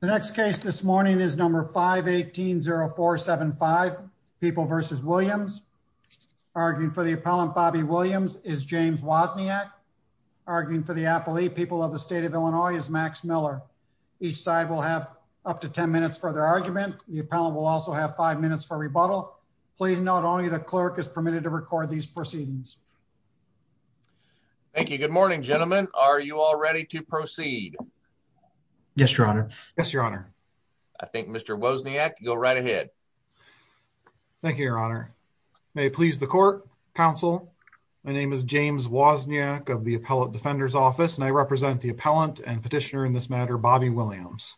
The next case this morning is number 5 18 0 4 75 people versus Williams arguing for the appellant. Bobby Williams is James Wozniak, arguing for the Apple E. People of the state of Illinois is Max Miller. Each side will have up to 10 minutes for their argument. The appellant will also have five minutes for rebuttal. Please. Not only the clerk is permitted to record these proceedings. Thank you. Good morning, gentlemen. Are you all ready to proceed? Yes, Your Honor. Yes, Your Honor. I think Mr Wozniak go right ahead. Thank you, Your Honor. May it please the court Council. My name is James Wozniak of the appellant Defender's office, and I represent the appellant and petitioner in this matter, Bobby Williams.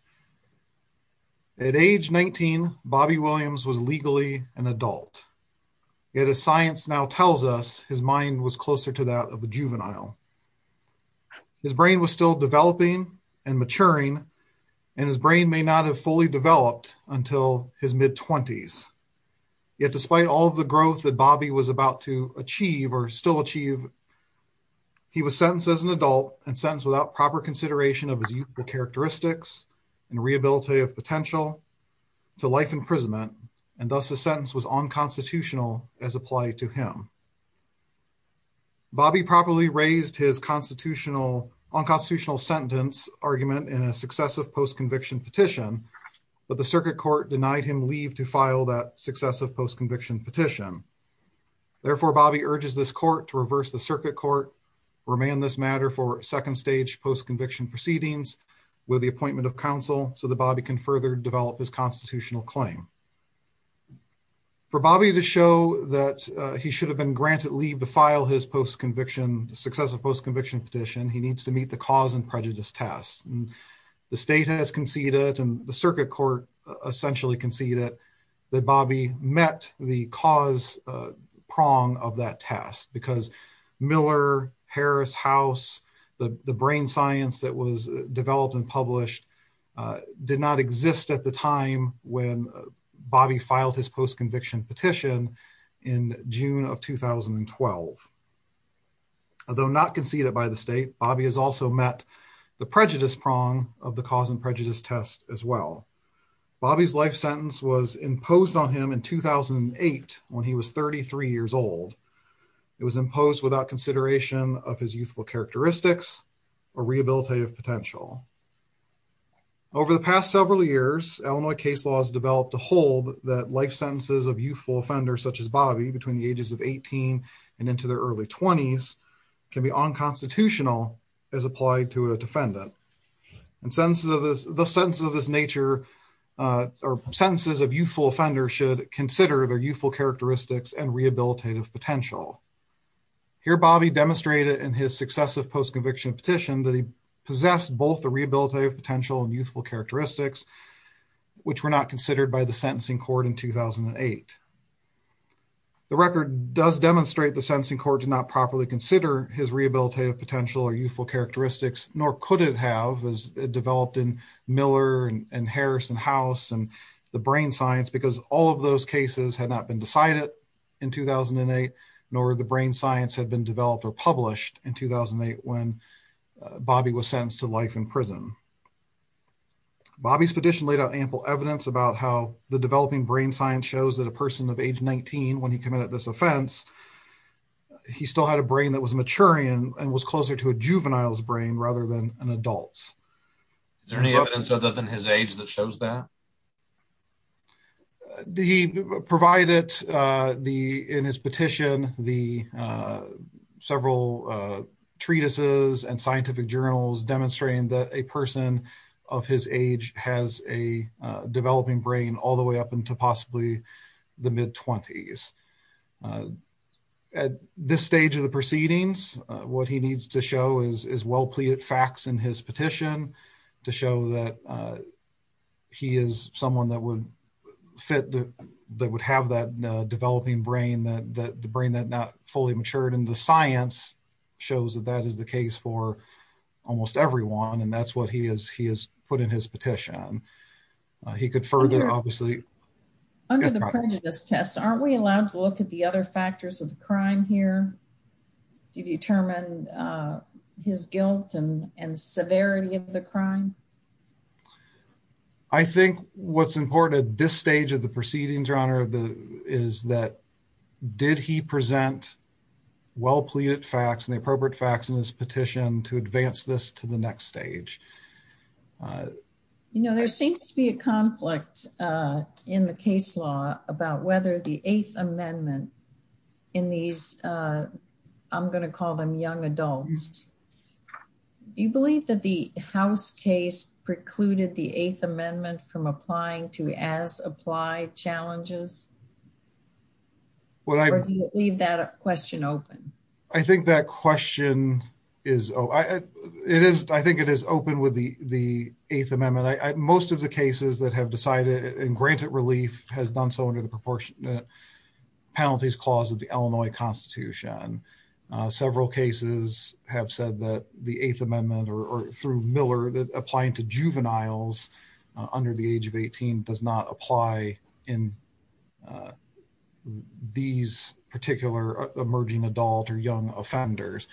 At age 19, Bobby Williams was legally an adult. Yet a science now tells us his mind was closer to that of a juvenile. His brain was still developing and maturing, and his brain may not have fully developed until his mid twenties. Yet, despite all of the growth that Bobby was about to achieve or still achieve, he was sentenced as an adult and sentence without proper consideration of his youthful characteristics and rehabilitative potential to life imprisonment, and thus the sentence was on constitutional as applied to him. Bobby properly raised his constitutional on constitutional sentence argument in a successive post conviction petition, but the circuit court denied him leave to file that successive post conviction petition. Therefore, Bobby urges this court to reverse the circuit court remain this matter for second stage post conviction proceedings with the appointment of counsel so that Bobby can further develop his constitutional claim. For Bobby to show that he should have been granted leave to file his post conviction successive post conviction petition, he needs to meet the cause and prejudice test. The state has conceded and the circuit court essentially conceded that Bobby met the cause prong of that test because Miller Harris House, the brain science that was developed and published, uh, did not Exist at the time when Bobby filed his post conviction petition in June of 2012, although not conceded by the state, Bobby has also met the prejudice prong of the cause and prejudice test as well. Bobby's life sentence was imposed on him in 2008 when he was 33 years old. It was imposed without consideration of his youthful characteristics or rehabilitative potential. Over the past several years, Illinois case laws developed to hold that life sentences of youthful offenders such as Bobby between the ages of 18 and into their early twenties can be unconstitutional as applied to a defendant and sentences of this, the sense of this nature, uh, or sentences of youthful offenders should consider their youthful characteristics and rehabilitative potential here. Bobby demonstrated in his successive post petition that he possessed both the rehabilitative potential and youthful characteristics, which were not considered by the sentencing court in 2008. The record does demonstrate the sentencing court did not properly consider his rehabilitative potential or youthful characteristics, nor could it have as developed in Miller and Harris and house and the brain science, because all of those cases had not been decided in 2008, nor the brain science had been developed or published in 2008 when Bobby was sentenced to life in prison. Bobby's petition laid out ample evidence about how the developing brain science shows that a person of age 19 when he committed this offense, he still had a brain that was maturing and was closer to a juvenile's brain rather than an adult. Is there any evidence other than his age that shows that he provided the in his petition the several treatises and scientific journals demonstrating that a person of his age has a developing brain all the way up into possibly the mid twenties. Uh, at this stage of the proceedings, what he needs to show is is well pleaded facts in his petition to show that, uh, he is someone that would fit that would have that developing brain that the brain that not fully matured in the science shows that that is the case for almost everyone. And that's what he is. He is put in his petition. He could further obviously under the prejudice tests, aren't we allowed to look at the other factors of the crime here to determine his guilt and severity of the crime? I think what's important at this stage of the proceedings, your honor, the is that did he present well pleaded facts and the appropriate facts in his petition to advance this to the next stage? Uh, you know, there seems to be a conflict, uh, in the case law about whether the eighth amendment in these, uh, I'm going to call them young adults. Do you believe that the House case precluded the eighth amendment from applying to as apply challenges? What? I leave that question open. I think that question is it is. I think it is open with the eighth amendment. Most of the cases that have decided and granted relief has done so under the proportionate penalties clause of the constitution. Several cases have said that the eighth amendment or through Miller that applying to juveniles under the age of 18 does not apply in, uh, these particular emerging adult or young offenders.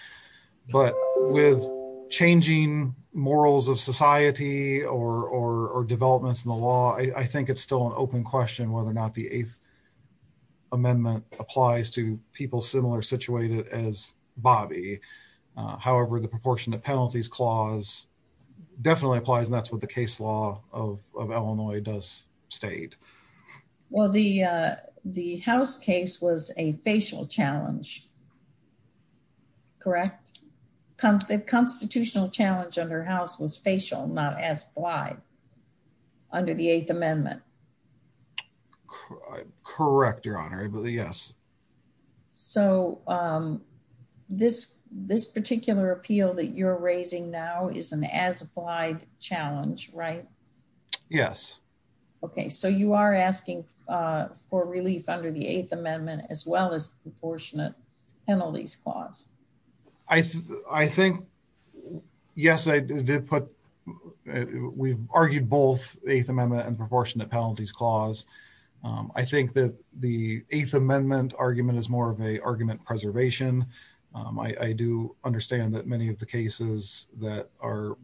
But with changing morals of society or or developments in the law, I think it's still an open question whether or not the eighth amendment applies to people similar situated as Bobby. However, the proportionate penalties clause definitely applies. That's what the case law of Illinois does state. Well, the, uh, the house case was a facial challenge. Correct. The constitutional challenge under house was facial, not as blind under the eighth amendment. Correct. Your honor. Yes. So, um, this this particular appeal that you're raising now is an as applied challenge, right? Yes. Okay. So you are asking for relief under the eighth amendment as well as proportionate penalties clause. I think yes, I did put we've argued both eighth amendment and proportionate penalties clause. I think that the eighth amendment argument is more of a argument preservation. I do understand that many of the cases that are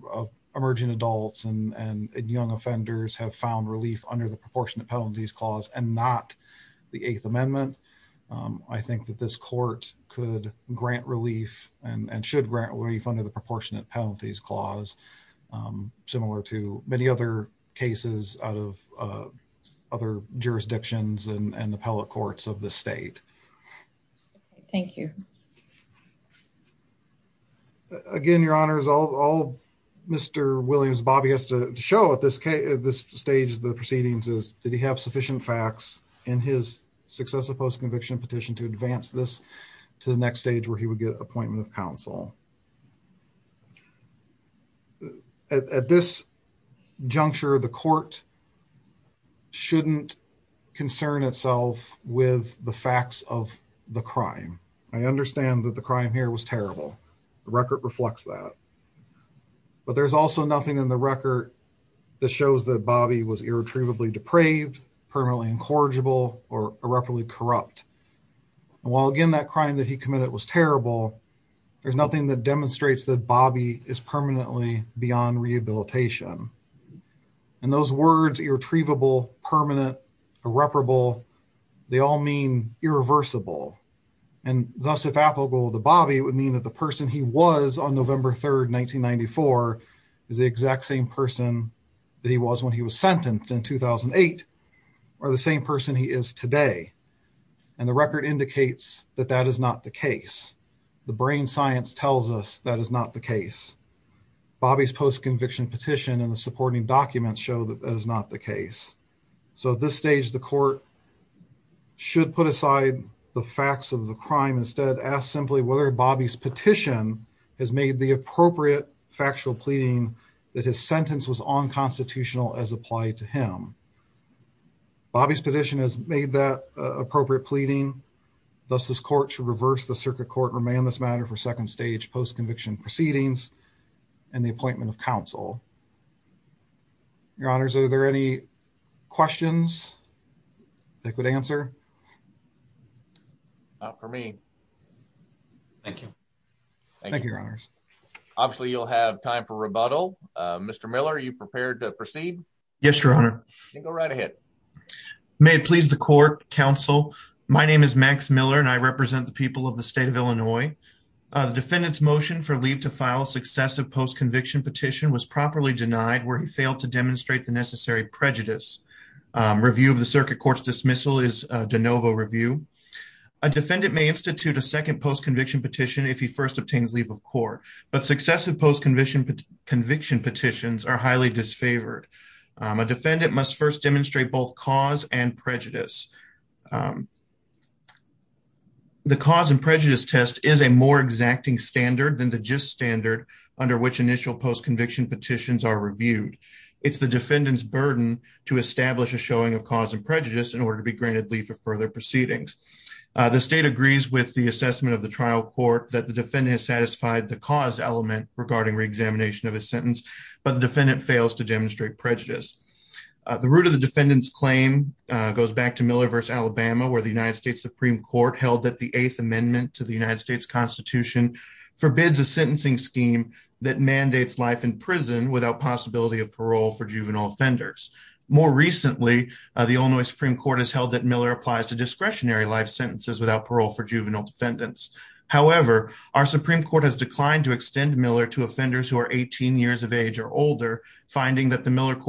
emerging adults and young offenders have found relief under the proportionate penalties clause and not the eighth amendment. I think that this court could grant relief and should grant relief under the proportionate penalties clause. Um, similar to many other cases out of, uh, other jurisdictions and appellate courts of the state. Thank you. Again, your honor is all Mr Williams. Bobby has to show at this stage of the proceedings is did he have sufficient facts in his successive post conviction petition to advance this to the next stage where he would get appointment of counsel at this juncture, the court shouldn't concern itself with the facts of the crime. I understand that the crime here was terrible. The record reflects that, but there's also nothing in the record that shows that bobby was irretrievably depraved, permanently incorrigible or irreparably corrupt. While again, that demonstrates that bobby is permanently beyond rehabilitation and those words irretrievable, permanent, irreparable, they all mean irreversible and thus if applicable to bobby would mean that the person he was on november 3rd 1994 is the exact same person that he was when he was sentenced in 2008 or the same person he is today. And the record indicates that that is not the case. The brain science tells us that is not the case. Bobby's post conviction petition and the supporting documents show that that is not the case. So at this stage the court should put aside the facts of the crime instead asked simply whether bobby's petition has made the appropriate factual pleading that his sentence was unconstitutional as applied to him. Bobby's petition has made that appropriate pleading. Thus this court to reverse the circuit court remain this matter for second stage post conviction proceedings and the appointment of counsel. Your honors. Are there any questions that could answer for me? Thank you. Thank you. Your honors. Obviously you'll have time for rebuttal. Mr Miller, are you prepared to proceed? Yes, your honor. Go right ahead. May it the court counsel. My name is max Miller and I represent the people of the state of Illinois. The defendant's motion for leave to file successive post conviction petition was properly denied where he failed to demonstrate the necessary prejudice. Review of the circuit court's dismissal is de novo review. A defendant may institute a second post conviction petition if he first obtains leave of court. But successive post conviction conviction petitions are highly disfavored. A defendant must first demonstrate both cause and prejudice. Um the cause and prejudice test is a more exacting standard than the just standard under which initial post conviction petitions are reviewed. It's the defendant's burden to establish a showing of cause and prejudice in order to be granted leave for further proceedings. The state agrees with the assessment of the trial court that the defendant has satisfied the cause element regarding reexamination of his sentence. But the defendant fails to goes back to Miller versus Alabama where the United States Supreme Court held that the eighth amendment to the United States Constitution forbids a sentencing scheme that mandates life in prison without possibility of parole for juvenile offenders. More recently, the Illinois Supreme Court has held that Miller applies to discretionary life sentences without parole for juvenile defendants. However, our Supreme Court has declined to extend Miller to offenders who are 18 years of age or older, finding that the Miller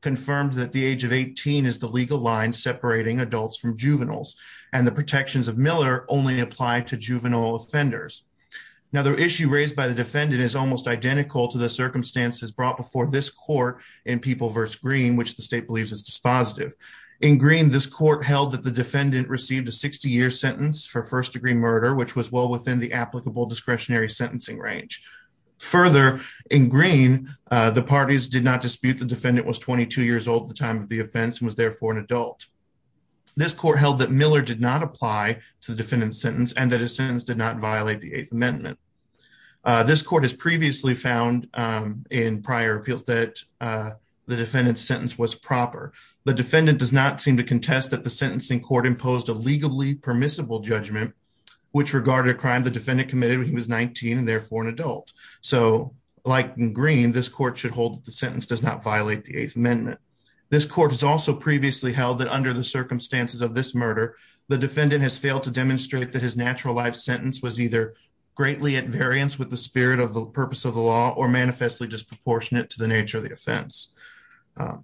confirmed that the age of 18 is the legal line separating adults from juveniles and the protections of Miller only apply to juvenile offenders. Now the issue raised by the defendant is almost identical to the circumstances brought before this court in people versus green, which the state believes is dispositive in green. This court held that the defendant received a 60 year sentence for first degree murder, which was well within the applicable discretionary sentencing range. Further in green, the parties did not dispute the defendant was 22 years old at the time of the offense and was therefore an adult. This court held that Miller did not apply to the defendant's sentence and that his sentence did not violate the eighth amendment. Uh, this court has previously found, um, in prior appeals that, uh, the defendant's sentence was proper. The defendant does not seem to contest that the sentencing court imposed a legally permissible judgment which regarded a crime the defendant committed when he was 19 and therefore an adult. So like in green, this court should hold that the sentence does not violate the eighth amendment. This court has also previously held that under the circumstances of this murder, the defendant has failed to demonstrate that his natural life sentence was either greatly at variance with the spirit of the purpose of the law or manifestly disproportionate to the nature of the offense. Uh,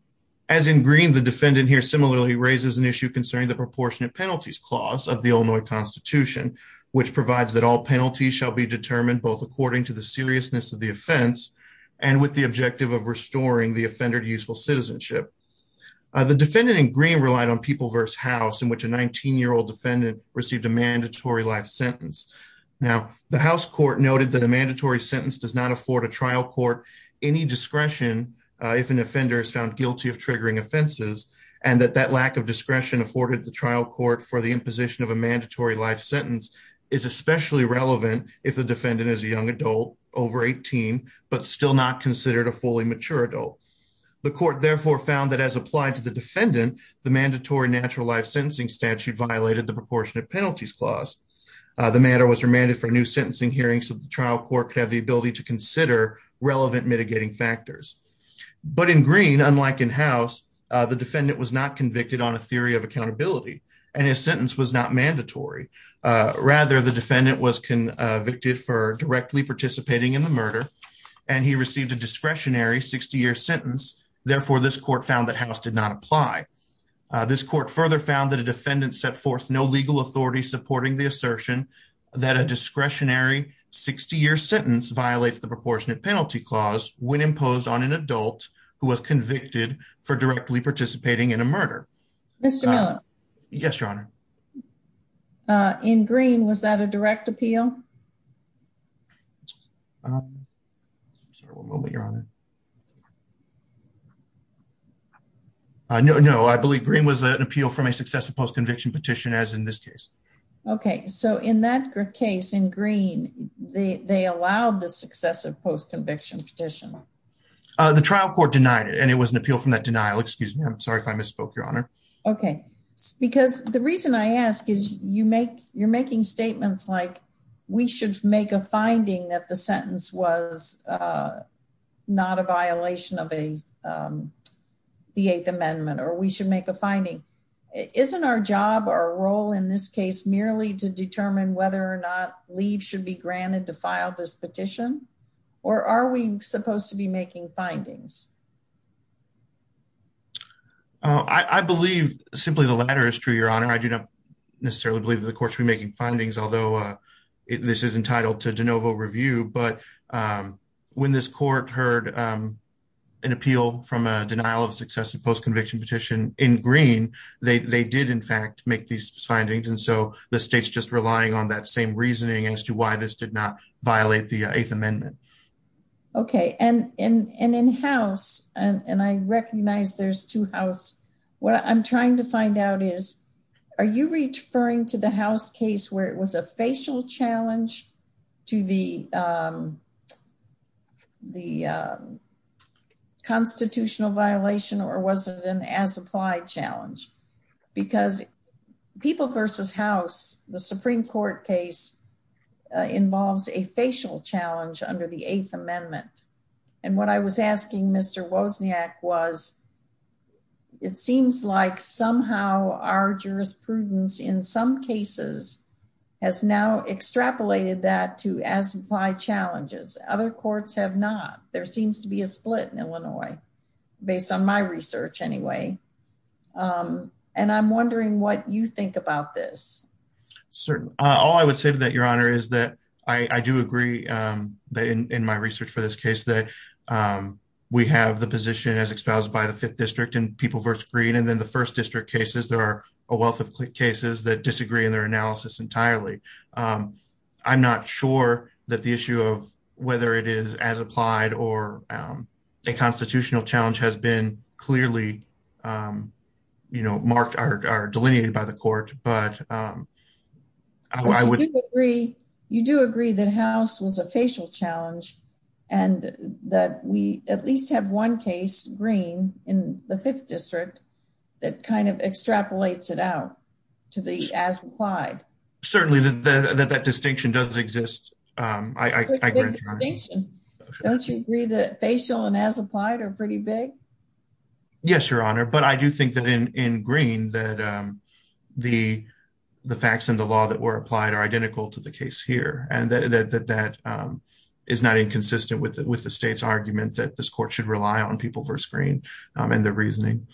as in green, the defendant here similarly raises an issue concerning the proportionate penalties clause of the Illinois Constitution, which provides that all penalties shall be determined both according to the seriousness of the offense and with the objective of restoring the offender to useful citizenship. Uh, the defendant in green relied on people versus house in which a 19 year old defendant received a mandatory life sentence. Now, the house court noted that a mandatory sentence does not afford a trial court any discretion if an offender is found guilty of triggering offenses and that that lack of discretion afforded the trial court for the imposition of a mandatory life sentence is especially relevant if the defendant is a young adult over 18 but still not considered a fully mature adult. The court therefore found that as applied to the defendant, the mandatory natural life sentencing statute violated the proportionate penalties clause. The matter was remanded for new sentencing hearings of the trial court could have the ability to consider relevant mitigating factors. But in green, unlike in house, the defendant was not convicted on a theory of accountability and his sentence was not mandatory. Rather, the defendant was convicted for directly participating in the murder and he received a discretionary 60 year sentence. Therefore, this court found that house did not apply. Uh, this court further found that a defendant set forth no legal authority supporting the assertion that a discretionary 60 year sentence violates the proportionate penalty clause when imposed on an adult who was convicted for directly participating in a murder. Mr Miller. Yes, Your Honor. Uh, in green, was that a direct appeal? Uh, so we'll let your honor. No, no, I believe green was an appeal from a successive post conviction petition as in this case. Okay. So in that case in green, they allowed the successive post conviction petition. Uh, the trial court denied it and it was an appeal from that denial. Excuse me. I'm sorry if I misspoke, Your Honor. Okay, because the reason I ask is you make you're making statements like we should make a finding that the sentence was, uh, not a violation of a, um, the Eighth Amendment or we should make a finding. Isn't our job or role in this case merely to determine whether or not leave should be granted to file this petition? Or are we supposed to be making findings? Uh, I believe simply the latter is true, Your Honor. I do not necessarily believe the courts were making findings, although, uh, this is entitled to de novo review. But, um, when this court heard, um, an appeal from a denial of successive post conviction petition in green, they did, in fact, make these findings. And so the state's just relying on that same reasoning as to why this did not violate the Eighth Amendment. Okay. And and in house and I recognize there's two house. What I'm trying to find out is are you referring to the house case where it was a facial challenge to the, um, the, uh, constitutional violation or wasn't an as applied challenge? Because people versus house, the Supreme Court case involves a asking Mr Wozniak was it seems like somehow our jurisprudence in some cases has now extrapolated that to as apply challenges. Other courts have not. There seems to be a split in Illinois based on my research anyway. Um, and I'm wondering what you think about this. Certainly all I would say to that, Your Honor, is that I do agree in my research for this case that, um, we have the position as espoused by the Fifth District and people versus green. And then the first district cases, there are a wealth of cases that disagree in their analysis entirely. Um, I'm not sure that the issue of whether it is as applied or, um, a constitutional challenge has been clearly, um, you know, marked are delineated by the court. But, um, I would agree. You do agree that house was a facial challenge and that we at least have one case green in the Fifth District that kind of extrapolates it out to the as applied. Certainly that that distinction does exist. Um, I don't agree that facial and as applied are pretty big. Yes, Your Honor. But I do think that in in green that, um, the facts and the law that were applied are identical to the case here, and that that that, um, is not inconsistent with with the state's argument that this court should rely on people for screen and their reasoning.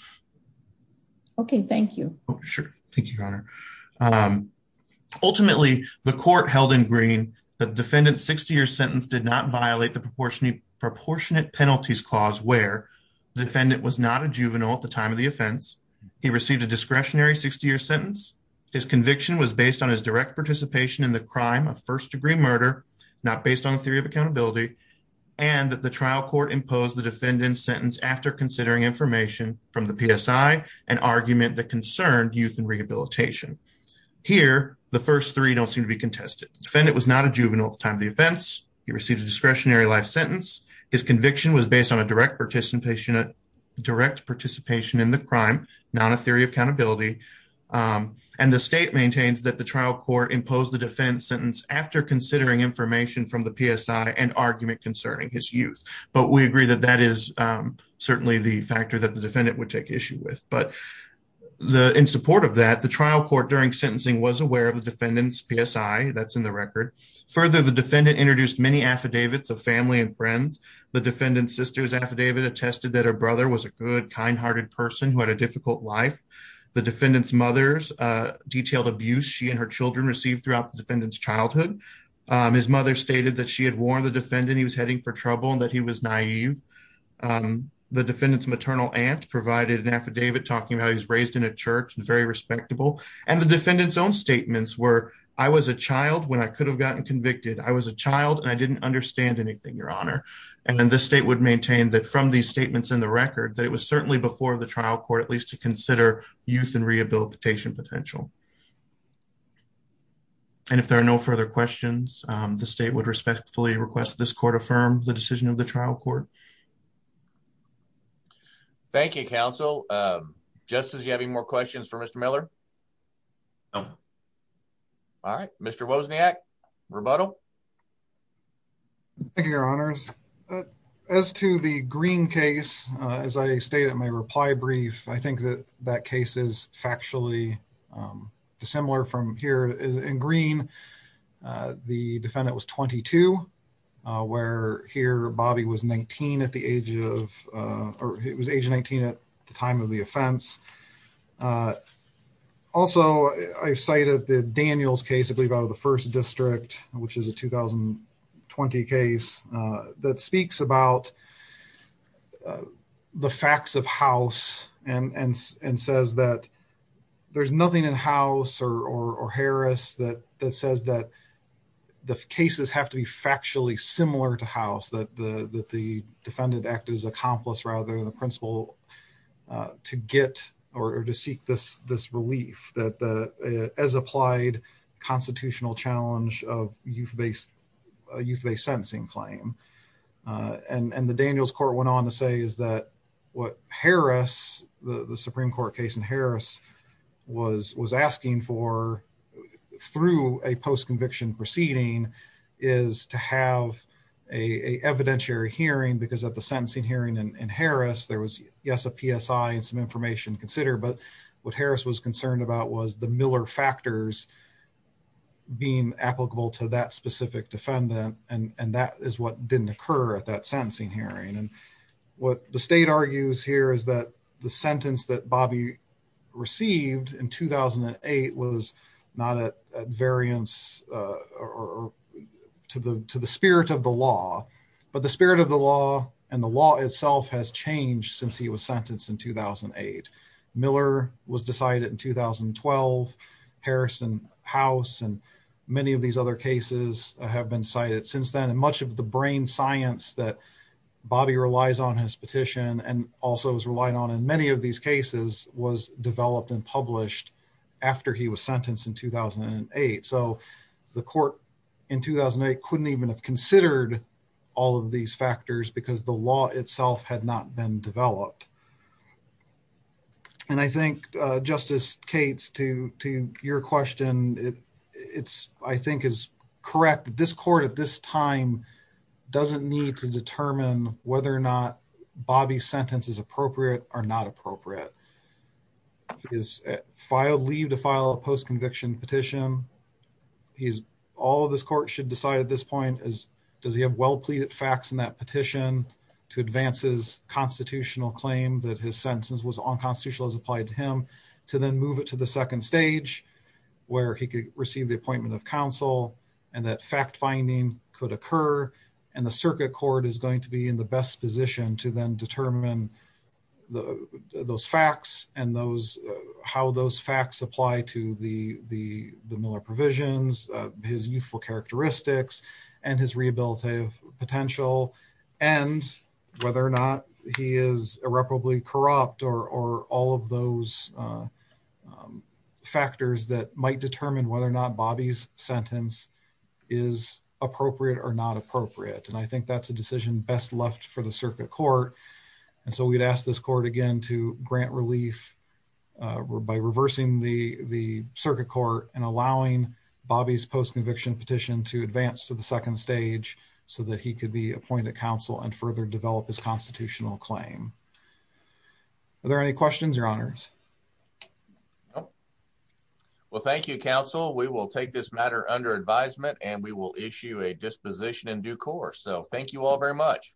Okay, thank you. Sure. Thank you, Your Honor. Um, ultimately, the court held in green. The defendant's 60 year sentence did not violate the proportionate proportionate penalties clause where the defendant was not a juvenile. At the time of the offense, he received a discretionary 60 year sentence. His conviction was based on his direct participation in the crime of first degree murder, not based on the theory of accountability, and that the trial court imposed the defendant's sentence after considering information from the PSI, an argument that concerned youth and rehabilitation. Here, the first three don't seem to be contested. Defendant was not a juvenile time. The events he received a discretionary life sentence. His conviction was based on a direct participation, a direct participation in the crime, not a and the state maintains that the trial court imposed the defense sentence after considering information from the PSI, an argument concerning his youth. But we agree that that is certainly the factor that the defendant would take issue with. But in support of that, the trial court during sentencing was aware of the defendant's PSI. That's in the record. Further, the defendant introduced many affidavits of family and friends. The defendant's sister's affidavit attested that her brother was a good, kind hearted person who had a detailed abuse. She and her Children received throughout the defendant's childhood. Um, his mother stated that she had warned the defendant he was heading for trouble and that he was naive. Um, the defendant's maternal aunt provided an affidavit talking about he was raised in a church and very respectable. And the defendant's own statements were I was a child when I could have gotten convicted. I was a child and I didn't understand anything, Your Honor. And then the state would maintain that from these statements in the record that it was certainly before the trial court, at least to consider youth and rehabilitation potential. And if there are no further questions, the state would respectfully request this court affirmed the decision of the trial court. Thank you, Counsel. Um, just as you having more questions for Mr Miller. No. All right, Mr Wozniak rebuttal. Thank you, Your Honors. As to the green case, as I stated in my reply brief, I cases factually, um, dissimilar from here is in green. Uh, the defendant was 22 where here Bobby was 19 at the age of, uh, it was age 19 at the time of the offense. Uh, also, I've cited the Daniels case, I believe, out of the first district, which is a 2000 and 20 case, uh, that speaks about, uh, the facts of house and says that there's nothing in house or Harris that says that the cases have to be factually similar to house that the defendant acted as accomplice rather than the principal, uh, to get or to seek this relief that as applied constitutional challenge of youth based youth based what Harris, the Supreme Court case in Harris was was asking for through a post conviction proceeding is to have a evidentiary hearing because at the sentencing hearing in Harris, there was, yes, a PSI and some information considered. But what Harris was concerned about was the Miller factors being applicable to that specific defendant. And that is what didn't occur at that sentencing hearing. And what the state argues here is that the sentence that Bobby received in 2000 and eight was not a variance, uh, or to the to the spirit of the law. But the spirit of the law and the law itself has changed since he was sentenced in 2000 and eight. Miller was decided in 2000 and 12 Harrison House and many of these other cases have been cited since then. And much of the brain science that Bobby relies on his petition and also was relied on in many of these cases was developed and published after he was sentenced in 2000 and eight. So the court in 2000 and eight couldn't even have considered all of these factors because the law itself had not been developed. And I think Justice Kate's to to your question. It's I think is correct. This court at this time doesn't need to determine whether or not Bobby's sentence is appropriate or not appropriate. He's filed leave to file a post conviction petition. He's all of this court should decide at this point is does he have well pleaded facts in that petition to advances constitutional claim that his sentence was on constitutional as applied to him to then move it to the second stage where he received the appointment of counsel and that fact finding could occur and the circuit court is going to be in the best position to then determine the those facts and those how those facts apply to the Miller provisions, his youthful characteristics and his rehabilitative potential and whether or not he is irreparably corrupt or or all of those, uh, um, factors that might determine whether or not Bobby's sentence is appropriate or not appropriate. And I think that's a decision best left for the circuit court. And so we'd ask this court again to grant relief by reversing the circuit court and allowing Bobby's post conviction petition to advance to the second stage so that he could be are there any questions or honors? No. Well, thank you, Counsel. We will take this matter under advisement and we will issue a disposition in due course. So thank you all very much.